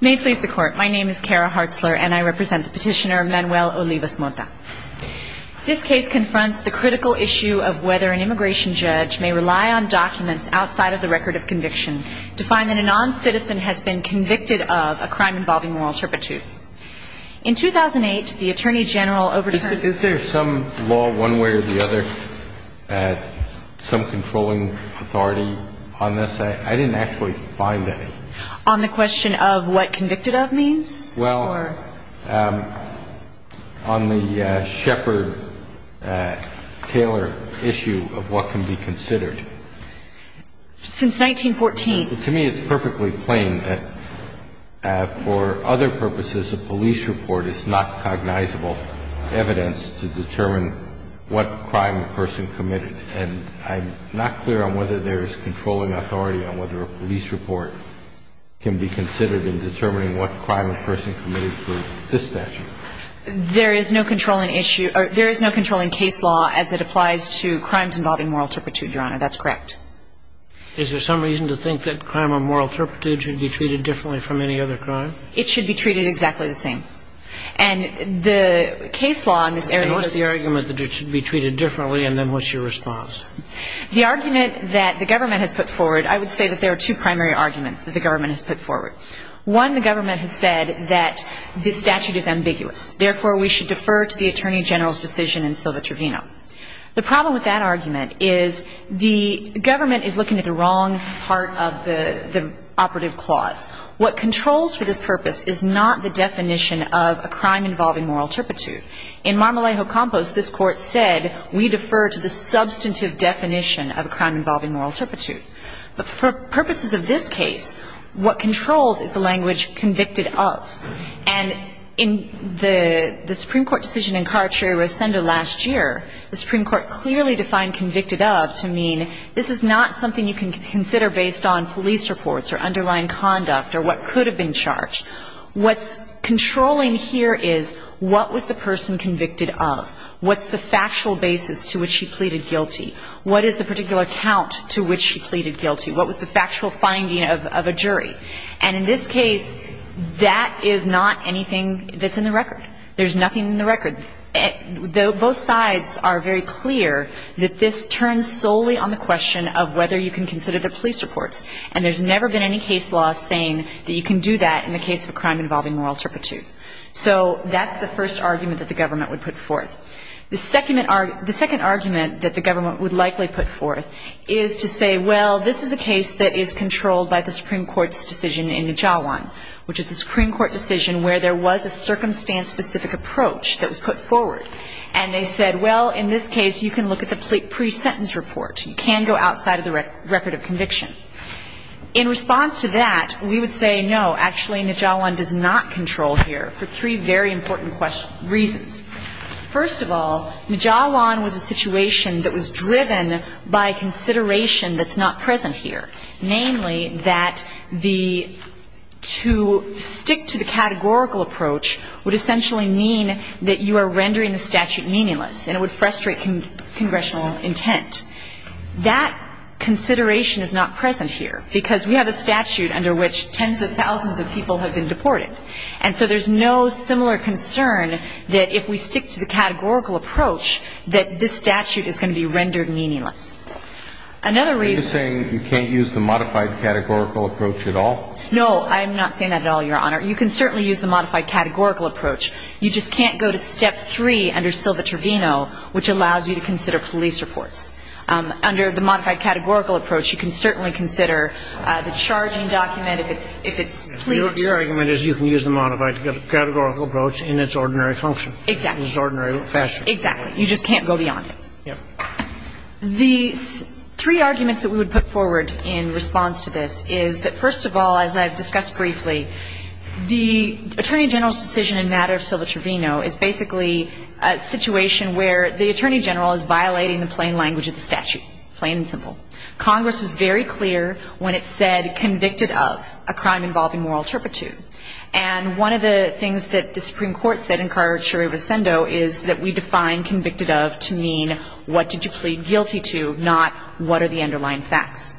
May it please the Court, my name is Kara Hartzler and I represent the petitioner Manuel Olivas-Motta. This case confronts the critical issue of whether an immigration judge may rely on documents outside of the record of conviction to find that a non-citizen has been convicted of a crime involving moral turpitude. In 2008, the Attorney General overturned... Is there some law one way or the other, some controlling authority on this? I didn't actually find any. On the question of what convicted of means? Well, on the Shepard-Taylor issue of what can be considered. Since 1914... To me it's perfectly plain that for other purposes a police report is not cognizable evidence to determine what crime the person committed. And I'm not clear on whether there is controlling authority on whether a police report can be considered in determining what crime a person committed for this statute. There is no controlling issue or there is no controlling case law as it applies to crimes involving moral turpitude, Your Honor. That's correct. Is there some reason to think that crime of moral turpitude should be treated differently from any other crime? It should be treated exactly the same. And the case law in this area... What's the argument that it should be treated differently and then what's your response? The argument that the government has put forward, I would say that there are two primary arguments that the government has put forward. One, the government has said that this statute is ambiguous. Therefore, we should defer to the Attorney General's decision in Silva-Trevino. The problem with that argument is the government is looking at the wrong part of the operative clause. What controls for this purpose is not the definition of a crime involving moral turpitude. In Marmolejo-Campos, this Court said we defer to the substantive definition of a crime involving moral turpitude. But for purposes of this case, what controls is the language convicted of. And in the Supreme Court decision in Carracheri-Rosendo last year, the Supreme Court clearly defined convicted of to mean this is not something you can consider based on police reports or underlying conduct or what could have been charged. What's controlling here is what was the person convicted of? What's the factual basis to which she pleaded guilty? What is the particular count to which she pleaded guilty? What was the factual finding of a jury? And in this case, that is not anything that's in the record. There's nothing in the record. Both sides are very clear that this turns solely on the question of whether you can consider the police reports. And there's never been any case law saying that you can do that in the case of a crime involving moral turpitude. So that's the first argument that the government would put forth. The second argument that the government would likely put forth is to say, well, this is a case that is controlled by the Supreme Court's which is a Supreme Court decision where there was a circumstance-specific approach that was put forward. And they said, well, in this case, you can look at the pre-sentence report. You can go outside of the record of conviction. In response to that, we would say, no, actually, Nijawan does not control here for three very important reasons. First of all, Nijawan was a situation that was driven by consideration that's not present here, namely that the to stick to the categorical approach would essentially mean that you are rendering the statute meaningless and it would frustrate congressional intent. That consideration is not present here because we have a statute under which tens of thousands of people have been deported. And so there's no similar concern that if we stick to the categorical approach that this statute is going to be rendered meaningless. Another reason- Are you saying you can't use the modified categorical approach at all? No, I'm not saying that at all, Your Honor. You can certainly use the modified categorical approach. You just can't go to step three under Silva-Trevino, which allows you to consider police reports. Under the modified categorical approach, you can certainly consider the charging document if it's clear to you. Your argument is you can use the modified categorical approach in its ordinary function. Exactly. In its ordinary fashion. Exactly. You just can't go beyond it. Yeah. The three arguments that we would put forward in response to this is that, first of all, as I've discussed briefly, the Attorney General's decision in matter of Silva-Trevino is basically a situation where the Attorney General is violating the plain language of the statute, plain and simple. Congress was very clear when it said convicted of a crime involving moral turpitude. And one of the things that the Supreme Court said in Carter v. Sando is that we define convicted of to mean what did you plead guilty to, not what are the underlying facts.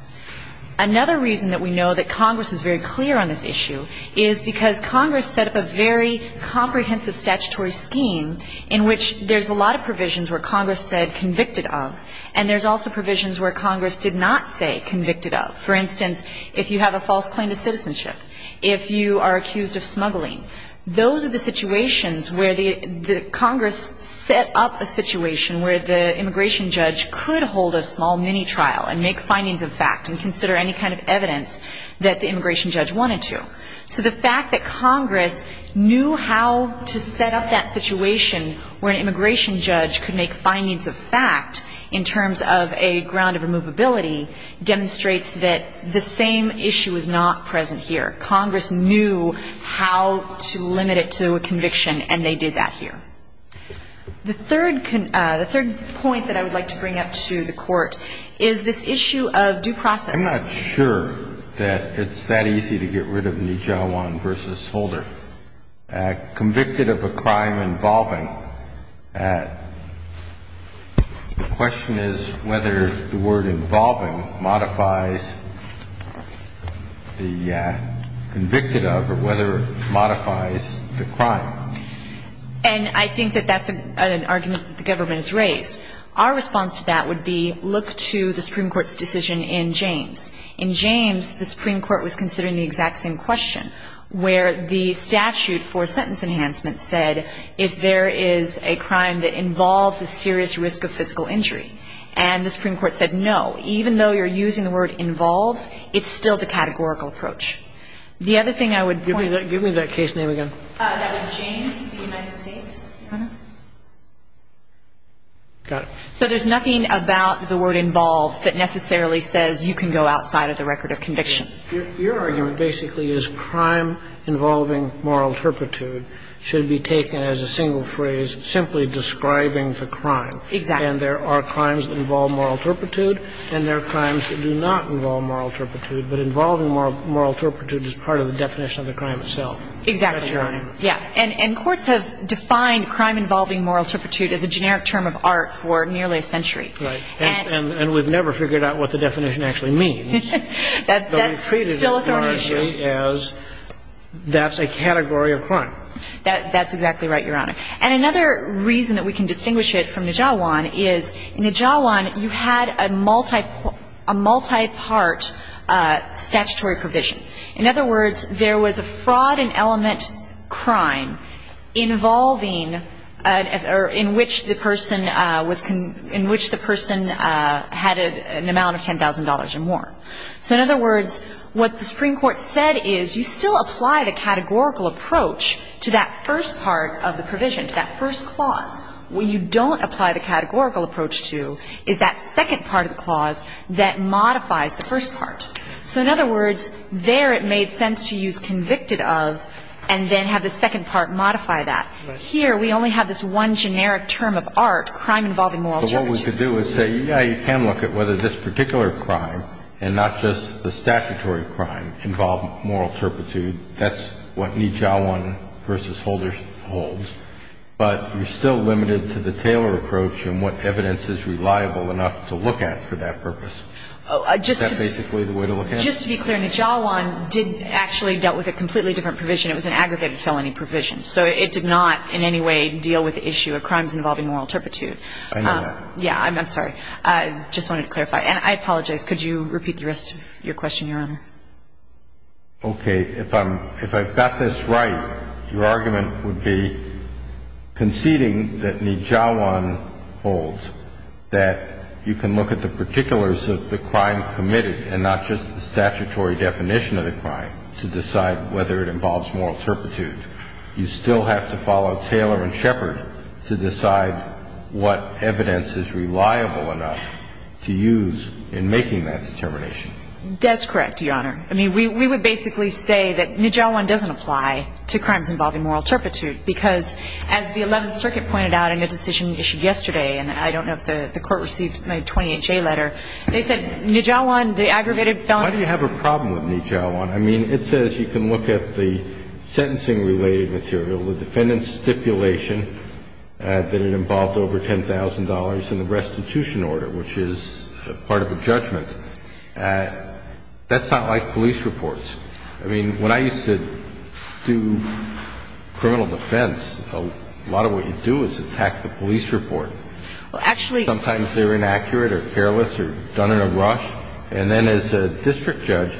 Another reason that we know that Congress is very clear on this issue is because Congress set up a very comprehensive statutory scheme in which there's a lot of provisions where Congress said convicted of, and there's also provisions where Congress did not say convicted of. For instance, if you have a false claim to citizenship, if you are accused of smuggling, those are the situations where the Congress set up a situation where the immigration judge could hold a small mini-trial and make findings of fact and consider any kind of evidence that the immigration judge wanted to. So the fact that Congress knew how to set up that situation where an immigration judge could make findings of fact in terms of a ground of removability demonstrates that the same issue is not present here. Congress knew how to limit it to a conviction, and they did that here. The third point that I would like to bring up to the Court is this issue of due process. I'm not sure that it's that easy to get rid of Nijawan v. Holder. The question is whether the word involving modifies the convicted of or whether it modifies the crime. And I think that that's an argument that the government has raised. Our response to that would be look to the Supreme Court's decision in James. In James, the Supreme Court was considering the exact same question, where the statute for sentence enhancement said if there is a crime that involves a serious risk of physical injury. And the Supreme Court said no. Even though you're using the word involves, it's still the categorical approach. The other thing I would point out to you. Give me that case name again. That was James v. United States. Got it. So there's nothing about the word involves that necessarily says you can go outside of the record of conviction. Your argument basically is crime involving moral turpitude should be taken as a single phrase simply describing the crime. Exactly. And there are crimes that involve moral turpitude and there are crimes that do not involve moral turpitude. But involving moral turpitude is part of the definition of the crime itself. Exactly. That's your argument. Yeah. And courts have defined crime involving moral turpitude as a generic term of art for nearly a century. Right. And we've never figured out what the definition actually means. That's still a thorny issue. But we've treated it largely as that's a category of crime. That's exactly right, Your Honor. And another reason that we can distinguish it from Nijawan is in Nijawan you had a multi-part statutory provision. In other words, there was a fraud and element crime involving or in which the person was in which the person had an amount of $10,000 or more. So in other words, what the Supreme Court said is you still apply the categorical approach to that first part of the provision, to that first clause. What you don't apply the categorical approach to is that second part of the clause that modifies the first part. So in other words, there it made sense to use convicted of and then have the second part modify that. Right. Here we only have this one generic term of art, crime involving moral turpitude. But what we could do is say, yeah, you can look at whether this particular crime and not just the statutory crime involve moral turpitude. That's what Nijawan v. Holder holds. But you're still limited to the Taylor approach and what evidence is reliable enough to look at for that purpose. Is that basically the way to look at it? Just to be clear, Nijawan did actually dealt with a completely different provision. It was an aggregated felony provision. So it did not in any way deal with the issue of crimes involving moral turpitude. I know that. Yeah. I'm sorry. I just wanted to clarify. And I apologize. Could you repeat the rest of your question, Your Honor? Okay. If I'm – if I've got this right, your argument would be conceding that Nijawan holds, that you can look at the particulars of the crime committed and not just the statutory definition of the crime to decide whether it involves moral turpitude. You still have to follow Taylor and Shepard to decide what evidence is reliable enough to use in making that determination. That's correct, Your Honor. I mean, we would basically say that Nijawan doesn't apply to crimes involving moral turpitude because, as the Eleventh Circuit pointed out in a decision issued yesterday, and I don't know if the Court received my 28-J letter, they said Nijawan, the aggregated felony – Why do you have a problem with Nijawan? I mean, it says you can look at the sentencing-related material, the defendant's stipulation, that it involved over $10,000 in the restitution order, which is part of a judgment. That's not like police reports. I mean, when I used to do criminal defense, a lot of what you do is attack the police report. Well, actually – Sometimes they're inaccurate or careless or done in a rush. And then as a district judge,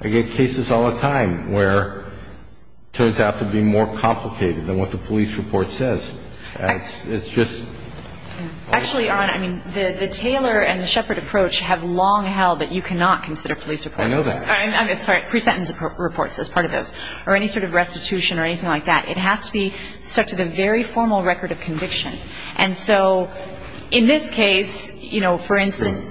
I get cases all the time where it turns out to be more complicated than what the police report says. It's just – Actually, Your Honor, I mean, the Taylor and the Shepard approach have long held that you cannot consider police reports. I know that. I'm sorry, pre-sentence reports as part of those, or any sort of restitution or anything like that. It has to be stuck to the very formal record of conviction. And so in this case, you know, for instance,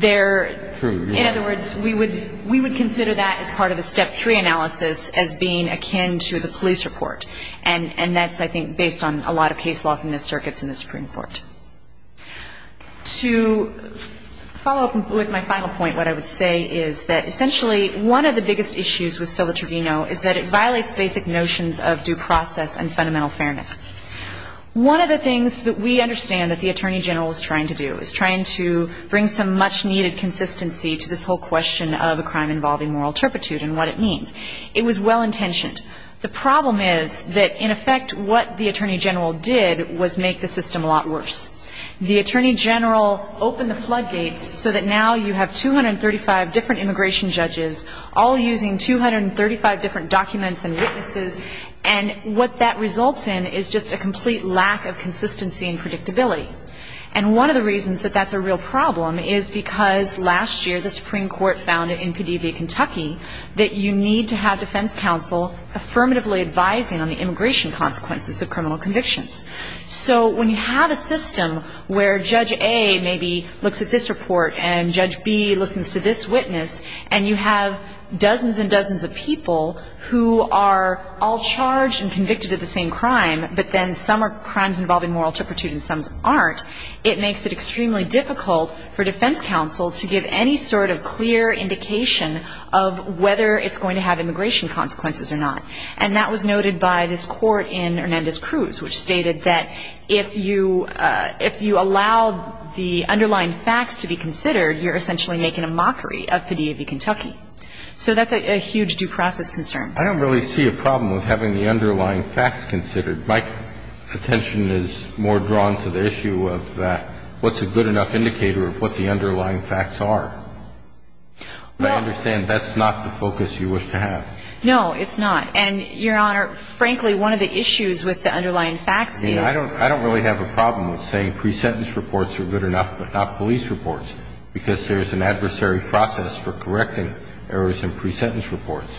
there – True, yeah. In other words, we would consider that as part of the Step 3 analysis as being akin to the police report. And that's, I think, based on a lot of case law from the circuits in the Supreme Court. To follow up with my final point, what I would say is that essentially one of the biggest issues with civil tribunal is that it violates basic notions of due process and fundamental fairness. One of the things that we understand that the Attorney General is trying to do is trying to bring some much-needed consistency to this whole question of a crime involving moral turpitude and what it means. It was well-intentioned. The problem is that, in effect, what the Attorney General did was make the system a lot worse. The Attorney General opened the floodgates so that now you have 235 different immigration judges all using 235 different documents and witnesses. And what that results in is just a complete lack of consistency and predictability. And one of the reasons that that's a real problem is because last year the Supreme Court found in PdV, Kentucky, that you need to have defense counsel affirmatively advising on the immigration consequences of criminal convictions. So when you have a system where Judge A maybe looks at this report and Judge B listens to this witness and you have dozens and dozens of people who are all charged and convicted of the same crime, but then some are crimes involving moral turpitude and some aren't, it makes it extremely difficult for defense counsel to give any sort of clear indication of whether it's going to have immigration consequences or not. And that was noted by this court in Hernandez-Cruz, which stated that if you allow the underlying facts to be considered, you're essentially making a mockery of PdV, Kentucky. So that's a huge due process concern. I don't really see a problem with having the underlying facts considered. My attention is more drawn to the issue of what's a good enough indicator of what the underlying facts are. I understand that's not the focus you wish to have. No, it's not. And, Your Honor, frankly, one of the issues with the underlying facts is that the underlying facts are not good enough. I mean, I don't really have a problem with saying pre-sentence reports are good enough, but not police reports, because there's an adversary process for correcting errors in pre-sentence reports.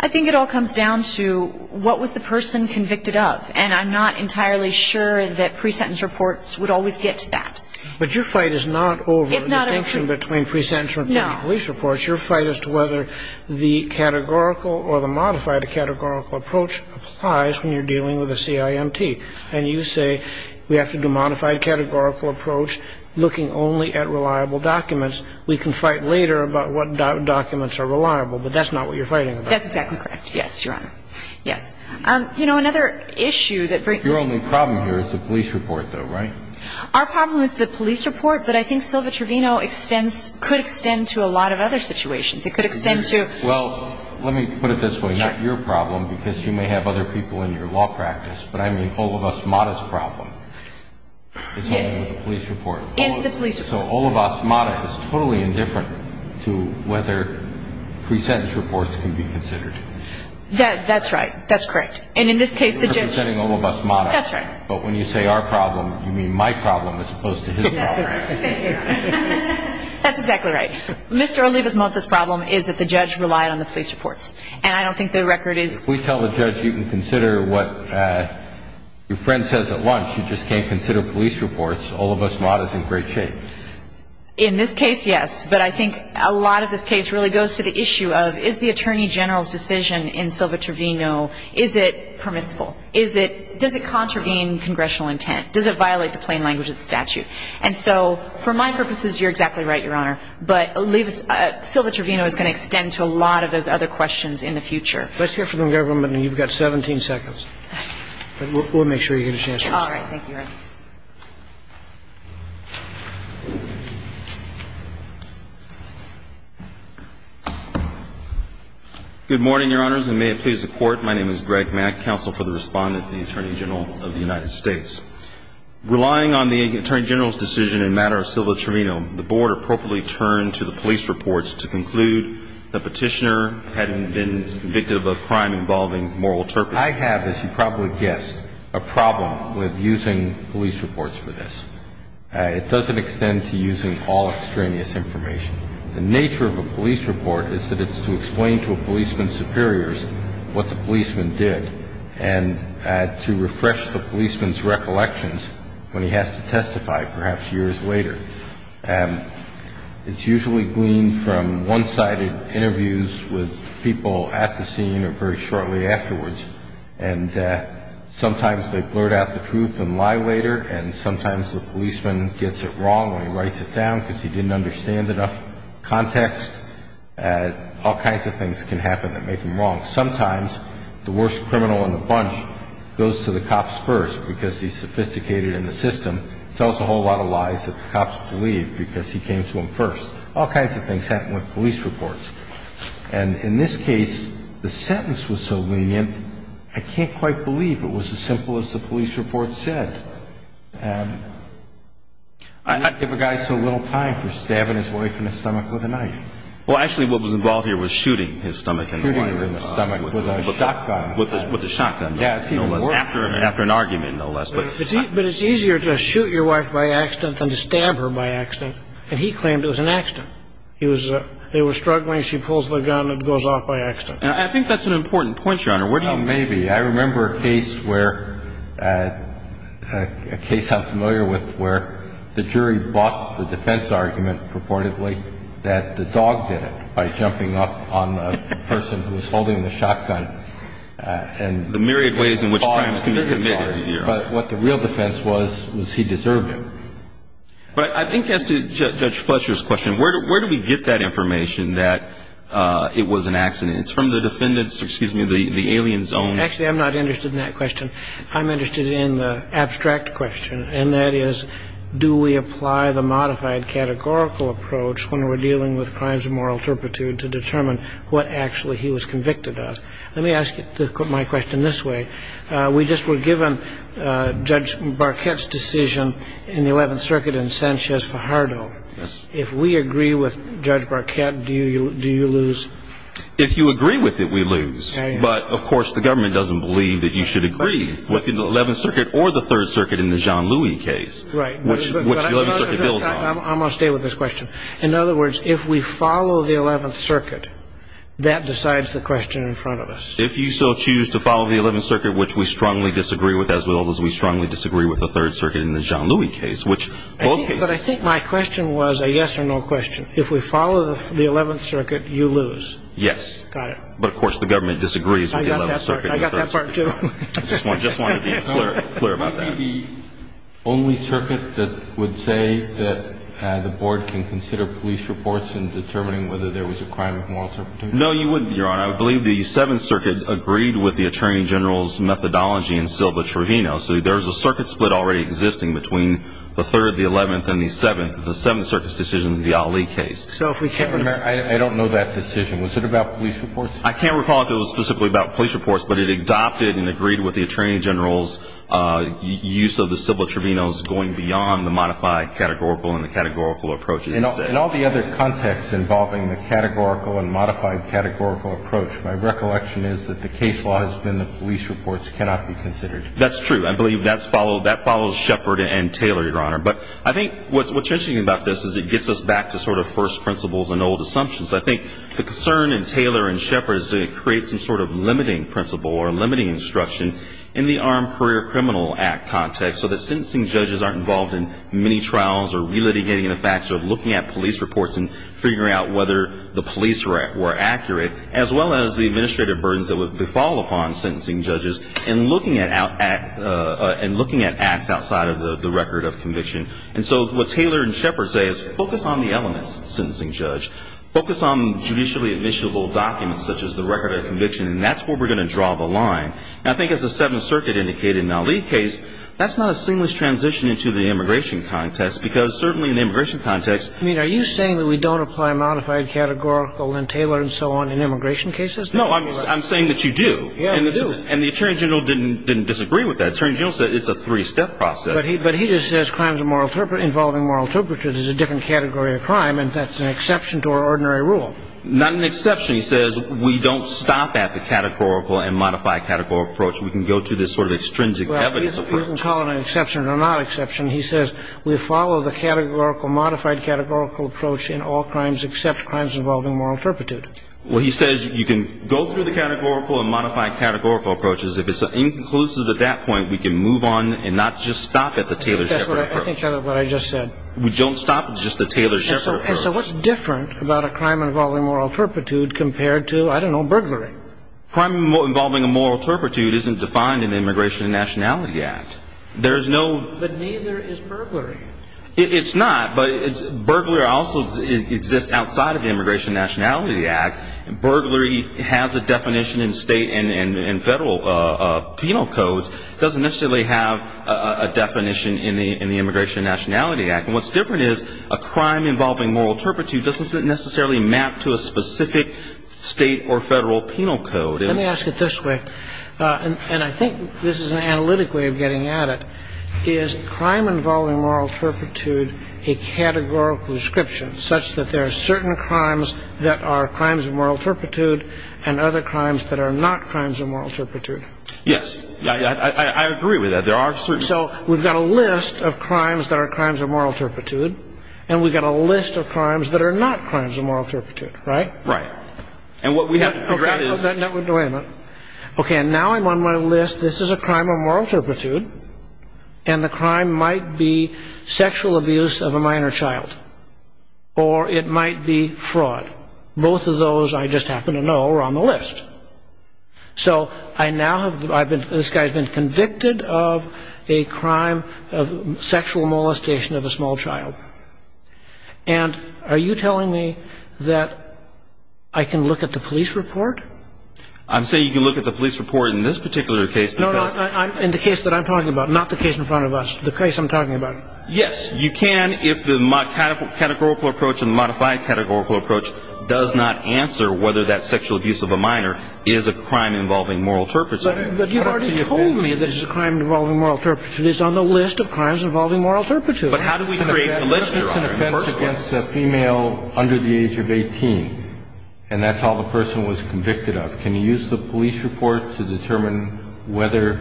I think it all comes down to what was the person convicted of. And I'm not entirely sure that pre-sentence reports would always get to that. But your fight is not over the distinction between pre-sentence reports and police reports. No. Your fight is to whether the categorical or the modified categorical approach applies when you're dealing with a CIMT. And you say we have to do a modified categorical approach, looking only at reliable documents. We can fight later about what documents are reliable. But that's not what you're fighting about. That's exactly correct. Yes, Your Honor. Yes. You know, another issue that brings up... Your only problem here is the police report, though, right? Our problem is the police report, but I think Silva-Trevino could extend to a lot of other situations. It could extend to... Well, let me put it this way. Not your problem, because you may have other people in your law practice, but I mean Olivas-Mata's problem. Yes. It's only with the police report. It's the police report. So Olivas-Mata is totally indifferent to whether pre-sentence reports can be considered. That's right. That's correct. And in this case, the judge... You're presenting Olivas-Mata. That's right. But when you say our problem, you mean my problem as opposed to his problem. That's right. That's exactly right. Mr. Olivas-Mata's problem is that the judge relied on the police reports, and I don't think the record is... If we tell the judge you can consider what your friend says at lunch, you just can't consider police reports, because Olivas-Mata is in great shape. In this case, yes. But I think a lot of this case really goes to the issue of is the Attorney General's decision in Silva-Trevino, is it permissible? Is it... Does it contravene congressional intent? Does it violate the plain language of the statute? And so for my purposes, you're exactly right, Your Honor. But Olivas... Silva-Trevino is going to extend to a lot of those other questions in the future. Let's hear from the government, and you've got 17 seconds. But we'll make sure you get a chance to respond. All right. Thank you, Your Honor. Good morning, Your Honors, and may it please the Court. My name is Greg Mack, counsel for the respondent to the Attorney General of the United States. Relying on the Attorney General's decision in matter of Silva-Trevino, the Board appropriately turned to the police reports to conclude the petitioner hadn't been convicted of a crime involving moral turpitude. I have, as you probably guessed, a problem with using police reports for this. It doesn't extend to using all extraneous information. The nature of a police report is that it's to explain to a policeman's superiors what the policeman did and to refresh the policeman's recollections when he has to testify, perhaps years later. It's usually gleaned from one-sided interviews with people at the scene or very shortly afterwards. And sometimes they blurt out the truth and lie later, and sometimes the policeman gets it wrong when he writes it down because he didn't understand enough context. All kinds of things can happen that make him wrong. Sometimes the worst criminal in the bunch goes to the cops first because he's sophisticated in the system, and tells a whole lot of lies that the cops believe because he came to them first. All kinds of things happen with police reports. And in this case, the sentence was so lenient, I can't quite believe it was as simple as the police report said. And I don't give a guy so little time for stabbing his wife in the stomach with a knife. Well, actually, what was involved here was shooting his stomach. Shooting him in the stomach with a shotgun. After an argument, no less. But it's easier to shoot your wife by accident than to stab her by accident. And he claimed it was an accident. They were struggling. She pulls the gun and goes off by accident. I think that's an important point, Your Honor. Maybe. I remember a case I'm familiar with where the jury bought the defense argument, purportedly, that the dog did it by jumping off on the person who was holding the shotgun. The myriad ways in which crimes can be committed. But what the real defense was, was he deserved it. But I think as to Judge Fletcher's question, where do we get that information that it was an accident? It's from the defendant's, excuse me, the alien's own. Actually, I'm not interested in that question. I'm interested in the abstract question. And that is, do we apply the modified categorical approach when we're dealing with crimes of moral turpitude to determine what actually he was convicted of? Let me ask my question this way. We just were given Judge Barquette's decision in the 11th Circuit in Sanchez-Fajardo. If we agree with Judge Barquette, do you lose? If you agree with it, we lose. But, of course, the government doesn't believe that you should agree with the 11th Circuit or the 3rd Circuit in the Jean-Louis case, which the 11th Circuit builds on. I'm going to stay with this question. In other words, if we follow the 11th Circuit, that decides the question in front of us. If you so choose to follow the 11th Circuit, which we strongly disagree with, as well as we strongly disagree with the 3rd Circuit in the Jean-Louis case, which both cases. But I think my question was a yes or no question. If we follow the 11th Circuit, you lose. Yes. Got it. But, of course, the government disagrees with the 11th Circuit and the 3rd Circuit. I got that part, too. I just wanted to be clear about that. Would you be the only circuit that would say that the Board can consider police reports No, you wouldn't, Your Honor. I believe the 7th Circuit agreed with the Attorney General's methodology in Silva-Trevino. So there's a circuit split already existing between the 3rd, the 11th, and the 7th. The 7th Circuit's decision in the Ali case. So if we can't remember, I don't know that decision. Was it about police reports? I can't recall if it was specifically about police reports, but it adopted and agreed with the Attorney General's use of the Silva-Trevino's going beyond the modified categorical and the categorical approaches. In all the other contexts involving the categorical and modified categorical approach, my recollection is that the case law has been that police reports cannot be considered. That's true. I believe that follows Shepard and Taylor, Your Honor. But I think what's interesting about this is it gets us back to sort of first principles and old assumptions. I think the concern in Taylor and Shepard is that it creates some sort of limiting principle or limiting instruction in the Armed Career Criminal Act context so that sentencing judges aren't involved in many trials or relitigating the facts or looking at police reports and figuring out whether the police were accurate, as well as the administrative burdens that would befall upon sentencing judges and looking at acts outside of the record of conviction. And so what Taylor and Shepard say is focus on the elements, sentencing judge. Focus on judicially admissible documents such as the record of conviction, and that's where we're going to draw the line. I think as the Seventh Circuit indicated in Malik's case, that's not a seamless transition into the immigration context, because certainly in the immigration context. I mean, are you saying that we don't apply modified categorical in Taylor and so on in immigration cases? No, I'm saying that you do. Yeah, we do. And the Attorney General didn't disagree with that. The Attorney General said it's a three-step process. But he just says crimes involving moral turpitude is a different category of crime, and that's an exception to our ordinary rule. Not an exception. He says we don't stop at the categorical and modify categorical approach. We can go to this sort of extrinsic evidence approach. Well, you can call it an exception or not exception. He says we follow the categorical, modified categorical approach in all crimes except crimes involving moral turpitude. Well, he says you can go through the categorical and modify categorical approaches. If it's inconclusive at that point, we can move on and not just stop at the Taylor-Shepard approach. I think that's what I just said. We don't stop at just the Taylor-Shepard approach. And so what's different about a crime involving moral turpitude compared to, I don't know, burglary? Crime involving a moral turpitude isn't defined in the Immigration and Nationality Act. There's no – But neither is burglary. It's not, but burglar also exists outside of the Immigration and Nationality Act. Burglary has a definition in state and federal penal codes. It doesn't necessarily have a definition in the Immigration and Nationality Act. And what's different is a crime involving moral turpitude doesn't necessarily map to a specific state or federal penal code. Let me ask it this way. And I think this is an analytic way of getting at it. Is crime involving moral turpitude a categorical description such that there are certain crimes that are crimes of moral turpitude and other crimes that are not crimes of moral turpitude? I agree with that. There are certain – And so we've got a list of crimes that are crimes of moral turpitude, and we've got a list of crimes that are not crimes of moral turpitude, right? Right. And what we have to figure out is – No, wait a minute. Okay, and now I'm on my list. This is a crime of moral turpitude, and the crime might be sexual abuse of a minor child, or it might be fraud. Both of those, I just happen to know, are on the list. So I now have – I've been – this guy's been convicted of a crime of sexual molestation of a small child. And are you telling me that I can look at the police report? I'm saying you can look at the police report in this particular case because – No, no, in the case that I'm talking about, not the case in front of us, the case I'm talking about. Yes, you can if the categorical approach and the modified categorical approach does not answer whether that sexual abuse of a minor is a crime involving moral turpitude. But you've already told me that it's a crime involving moral turpitude. It's on the list of crimes involving moral turpitude. But how do we create the list? It's an offense against a female under the age of 18, and that's all the person was convicted of. Can you use the police report to determine whether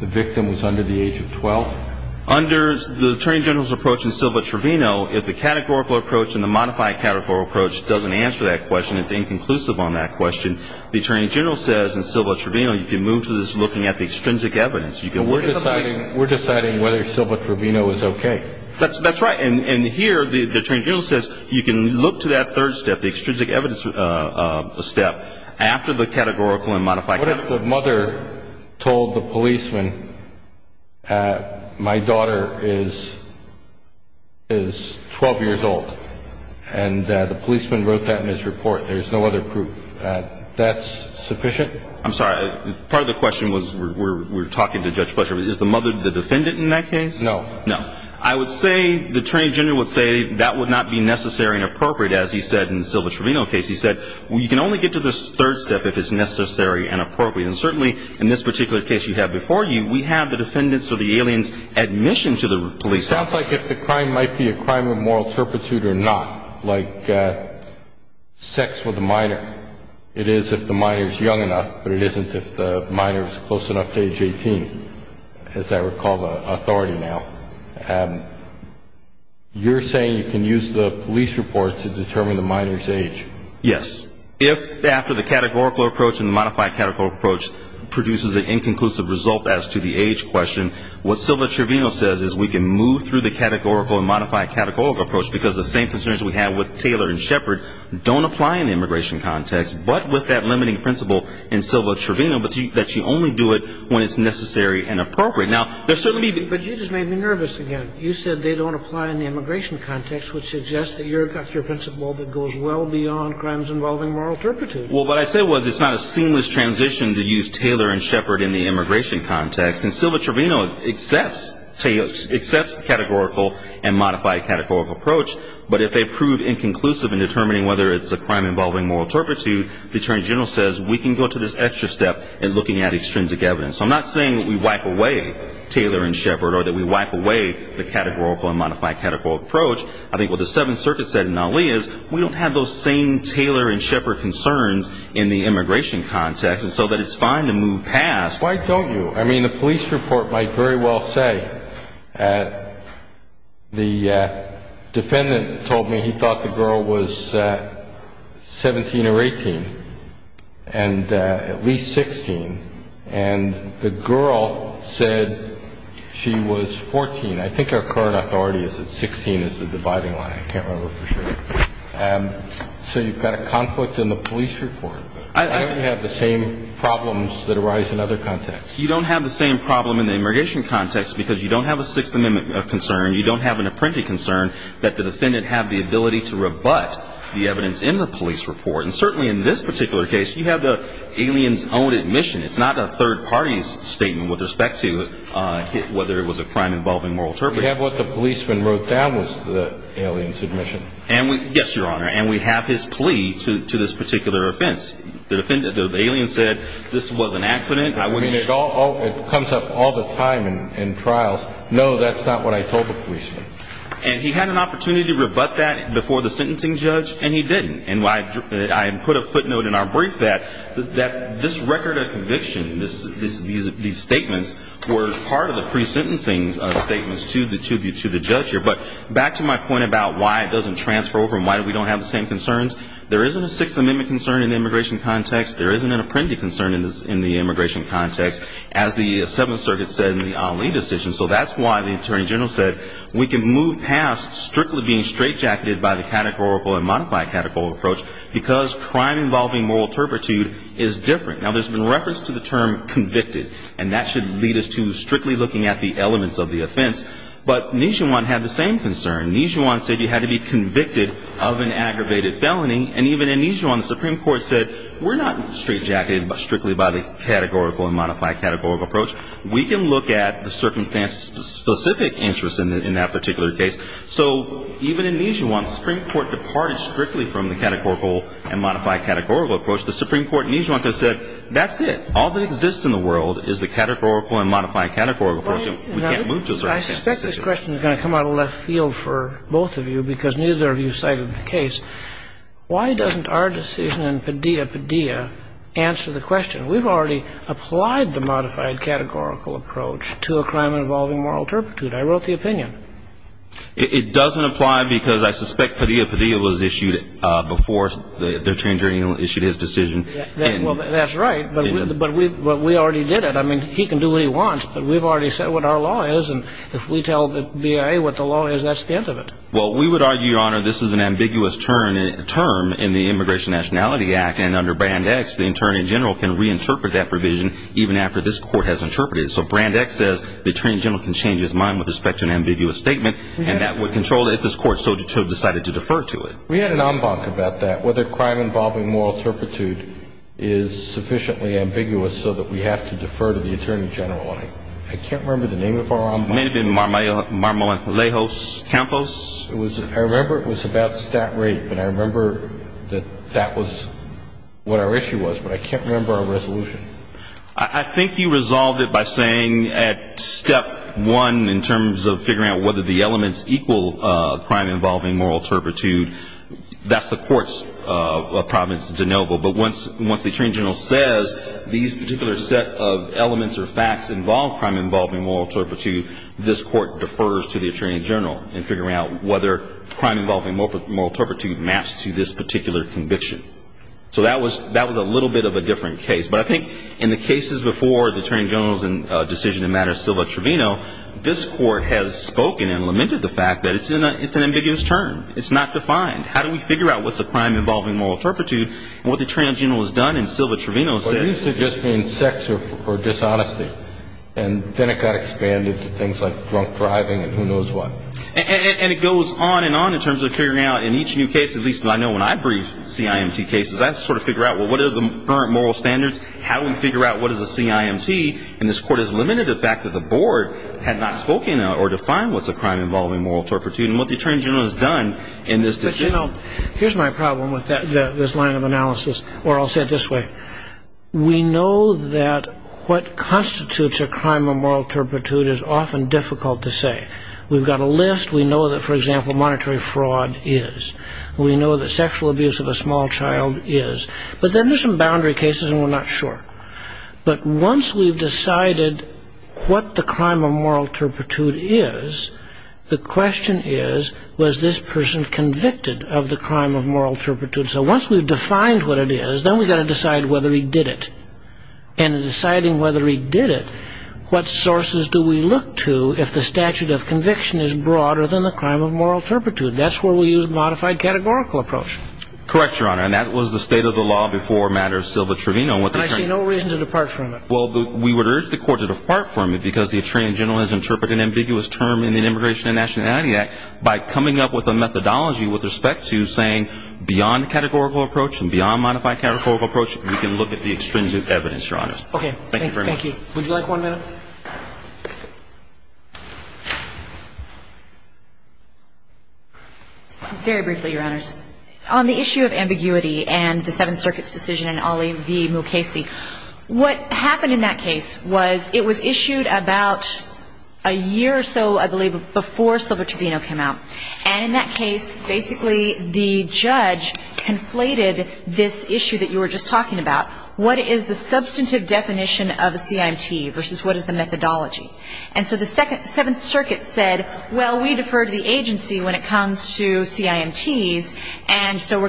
the victim was under the age of 12? Under the attorney general's approach in Silva-Trevino, if the categorical approach and the modified categorical approach doesn't answer that question, it's inconclusive on that question, the attorney general says in Silva-Trevino you can move to this looking at the extrinsic evidence. We're deciding whether Silva-Trevino is okay. That's right. And here the attorney general says you can look to that third step, the extrinsic evidence step, after the categorical and modified – What if the mother told the policeman, my daughter is 12 years old, and the policeman wrote that in his report. There's no other proof. That's sufficient? I'm sorry. Part of the question was we're talking to Judge Fletcher. Is the mother the defendant in that case? No. No. I would say the attorney general would say that would not be necessary and appropriate, as he said in the Silva-Trevino case. He said you can only get to this third step if it's necessary and appropriate. And certainly in this particular case you have before you, we have the defendant's or the alien's admission to the police station. It sounds like if the crime might be a crime of moral turpitude or not, like sex with a minor. It is if the minor is young enough, but it isn't if the minor is close enough to age 18, as I recall the authority now. You're saying you can use the police report to determine the minor's age. Yes. If after the categorical approach and the modified categorical approach produces an inconclusive result as to the age question, what Silva-Trevino says is we can move through the categorical and modified categorical approach because the same concerns we have with Taylor and Shepard don't apply in the immigration context, but with that limiting principle in Silva-Trevino, but that you only do it when it's necessary and appropriate. But you just made me nervous again. You said they don't apply in the immigration context, which suggests that you've got your principle that goes well beyond crimes involving moral turpitude. Well, what I said was it's not a seamless transition to use Taylor and Shepard in the immigration context, and Silva-Trevino accepts the categorical and modified categorical approach, but if they prove inconclusive in determining whether it's a crime involving moral turpitude, the Attorney General says we can go to this extra step in looking at extrinsic evidence. So I'm not saying that we wipe away Taylor and Shepard or that we wipe away the categorical and modified categorical approach. I think what the Seventh Circuit said in Ali is we don't have those same Taylor and Shepard concerns in the immigration context, and so that it's fine to move past. Why don't you? I mean, the police report might very well say the defendant told me he thought the girl was 17 or 18 and at least 16, and the girl said she was 14. I think our current authority is that 16 is the dividing line. I can't remember for sure. So you've got a conflict in the police report. I don't have the same problems that arise in other contexts. You don't have the same problem in the immigration context because you don't have a Sixth Amendment concern. You don't have an apprentice concern that the defendant have the ability to rebut the evidence in the police report. And certainly in this particular case, you have the alien's own admission. It's not a third party's statement with respect to whether it was a crime involving moral turpitude. We have what the policeman wrote down was the alien's admission. Yes, Your Honor, and we have his plea to this particular offense. The alien said this was an accident. It comes up all the time in trials. No, that's not what I told the policeman. And he had an opportunity to rebut that before the sentencing judge, and he didn't. And I put a footnote in our brief that this record of conviction, these statements, were part of the pre-sentencing statements to the judge here. But back to my point about why it doesn't transfer over and why we don't have the same concerns, there isn't a Sixth Amendment concern in the immigration context. There isn't an apprentice concern in the immigration context, as the Seventh Circuit said in the Ali decision. So that's why the attorney general said we can move past strictly being straightjacketed by the categorical and modified categorical approach because crime involving moral turpitude is different. Now, there's been reference to the term convicted, and that should lead us to strictly looking at the elements of the offense. But Nijuan had the same concern. Nijuan said you had to be convicted of an aggravated felony, and even in Nijuan, the Supreme Court said we're not straightjacketed strictly by the categorical and modified categorical approach. We can look at the circumstance-specific interest in that particular case. So even in Nijuan, the Supreme Court departed strictly from the categorical and modified categorical approach. The Supreme Court in Nijuan said that's it. All that exists in the world is the categorical and modified categorical approach, and we can't move to a certain sense of the situation. I suspect this question is going to come out of left field for both of you because neither of you cited the case. Why doesn't our decision in Padilla-Padilla answer the question? We've already applied the modified categorical approach to a crime involving moral turpitude. I wrote the opinion. It doesn't apply because I suspect Padilla-Padilla was issued before the Attorney General issued his decision. Well, that's right, but we already did it. I mean, he can do what he wants, but we've already said what our law is, and if we tell the BIA what the law is, that's the end of it. Well, we would argue, Your Honor, this is an ambiguous term in the Immigration and Nationality Act, and under Brand X, the Attorney General can reinterpret that provision even after this Court has interpreted it. So Brand X says the Attorney General can change his mind with respect to an ambiguous statement, and that would control it if this Court so decided to defer to it. We had an en banc about that, whether crime involving moral turpitude is sufficiently ambiguous so that we have to defer to the Attorney General. I can't remember the name of our en banc. It may have been Marmolejos Campos. I remember it was about stat rape, and I remember that that was what our issue was, but I can't remember our resolution. I think you resolved it by saying at step one, in terms of figuring out whether the elements equal crime involving moral turpitude, that's the courts of Providence-Denobo. But once the Attorney General says these particular set of elements or facts involve crime involving moral turpitude, this Court defers to the Attorney General in figuring out whether crime involving moral turpitude maps to this particular conviction. So that was a little bit of a different case. But I think in the cases before the Attorney General's decision in matters of Silva-Trevino, this Court has spoken and lamented the fact that it's an ambiguous term. It's not defined. How do we figure out what's a crime involving moral turpitude and what the Attorney General has done in Silva-Trevino? Well, it used to just mean sex or dishonesty, and then it got expanded to things like drunk driving and who knows what. And it goes on and on in terms of figuring out in each new case, at least I know when I brief CIMT cases, I sort of figure out, well, what are the current moral standards? How do we figure out what is a CIMT? And this Court has lamented the fact that the Board had not spoken or defined what's a crime involving moral turpitude and what the Attorney General has done in this decision. You know, here's my problem with this line of analysis, or I'll say it this way. We know that what constitutes a crime of moral turpitude is often difficult to say. We've got a list. We know that, for example, monetary fraud is. We know that sexual abuse of a small child is. But then there's some boundary cases, and we're not sure. But once we've decided what the crime of moral turpitude is, the question is, was this person convicted of the crime of moral turpitude? So once we've defined what it is, then we've got to decide whether he did it. And in deciding whether he did it, what sources do we look to if the statute of conviction is broader than the crime of moral turpitude? That's where we use a modified categorical approach. Correct, Your Honor, and that was the state of the law before matters of Silva-Trevino. I see no reason to depart from it. Well, we would urge the Court to depart from it because the Attorney General has interpreted an ambiguous term in the Immigration and Nationality Act by coming up with a methodology with respect to saying, beyond the categorical approach and beyond modified categorical approach, we can look at the extrinsic evidence, Your Honors. Okay. Thank you very much. Thank you. Would you like one minute? Very briefly, Your Honors. On the issue of ambiguity and the Seventh Circuit's decision in Ali v. Mukasey, what happened in that case was it was issued about a year or so, I believe, before Silva-Trevino came out. And in that case, basically the judge conflated this issue that you were just talking about, what is the substantive definition of a CIMT versus what is the methodology. And so the Seventh Circuit said, well, we defer to the agency when it comes to CIMTs, and so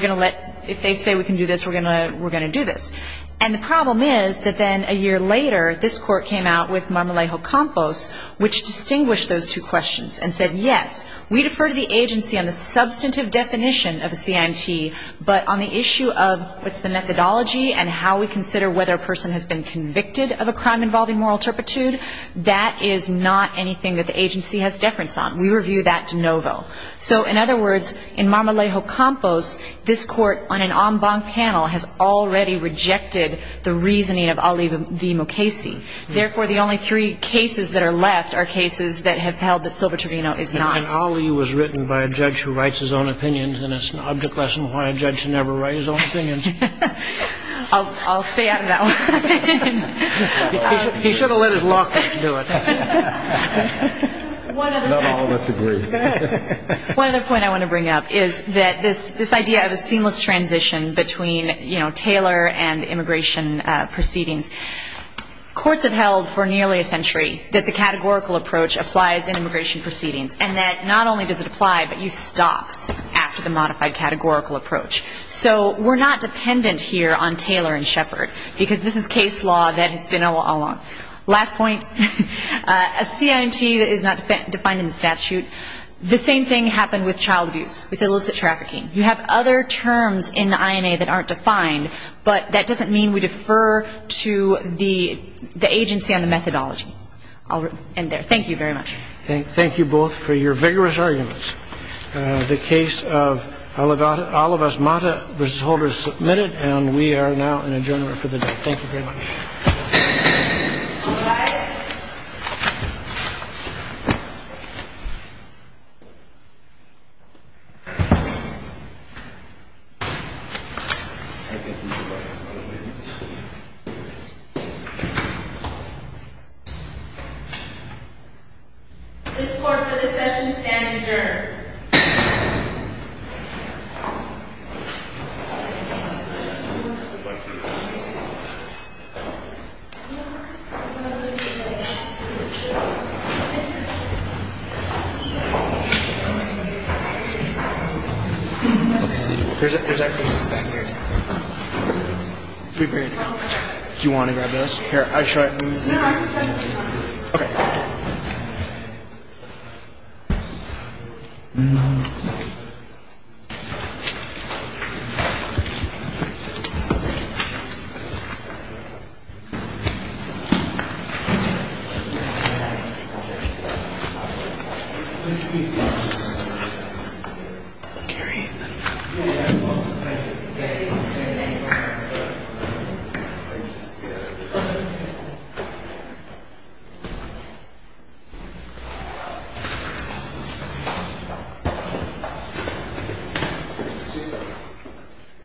if they say we can do this, we're going to do this. And the problem is that then a year later, this Court came out with Marmolejo-Campos, which distinguished those two questions and said, yes, we defer to the agency on the substantive definition of a CIMT, but on the issue of what's the methodology and how we consider whether a person has been convicted of a crime involving moral turpitude, that is not anything that the agency has deference on. We review that de novo. So in other words, in Marmolejo-Campos, this Court on an en banc panel has already rejected the reasoning of Ali v. Mukasey. Therefore, the only three cases that are left are cases that have held that Silva-Trevino is not. And Ali was written by a judge who writes his own opinions, and it's an object lesson why a judge should never write his own opinions. I'll stay out of that one. He should have let his law class do it. Not all of us agree. One other point I want to bring up is that this idea of a seamless transition between Taylor and immigration proceedings, courts have held for nearly a century that the categorical approach applies in immigration proceedings and that not only does it apply, but you stop after the modified categorical approach. So we're not dependent here on Taylor and Shepard because this is case law that has been all along. Last point. A CIMT is not defined in the statute. The same thing happened with child abuse, with illicit trafficking. You have other terms in the INA that aren't defined, but that doesn't mean we defer to the agency on the methodology. I'll end there. Thank you very much. Thank you both for your vigorous arguments. The case of Olivas-Mata v. Holder is submitted, and we are now in adjournment for the day. Thank you very much. All rise. This court for discussion stands adjourned. Thank you very much. Let's see. There's actually a stack here. Are we ready to go? Do you want to grab this? Here, I'll show you. Okay. Okay. All right.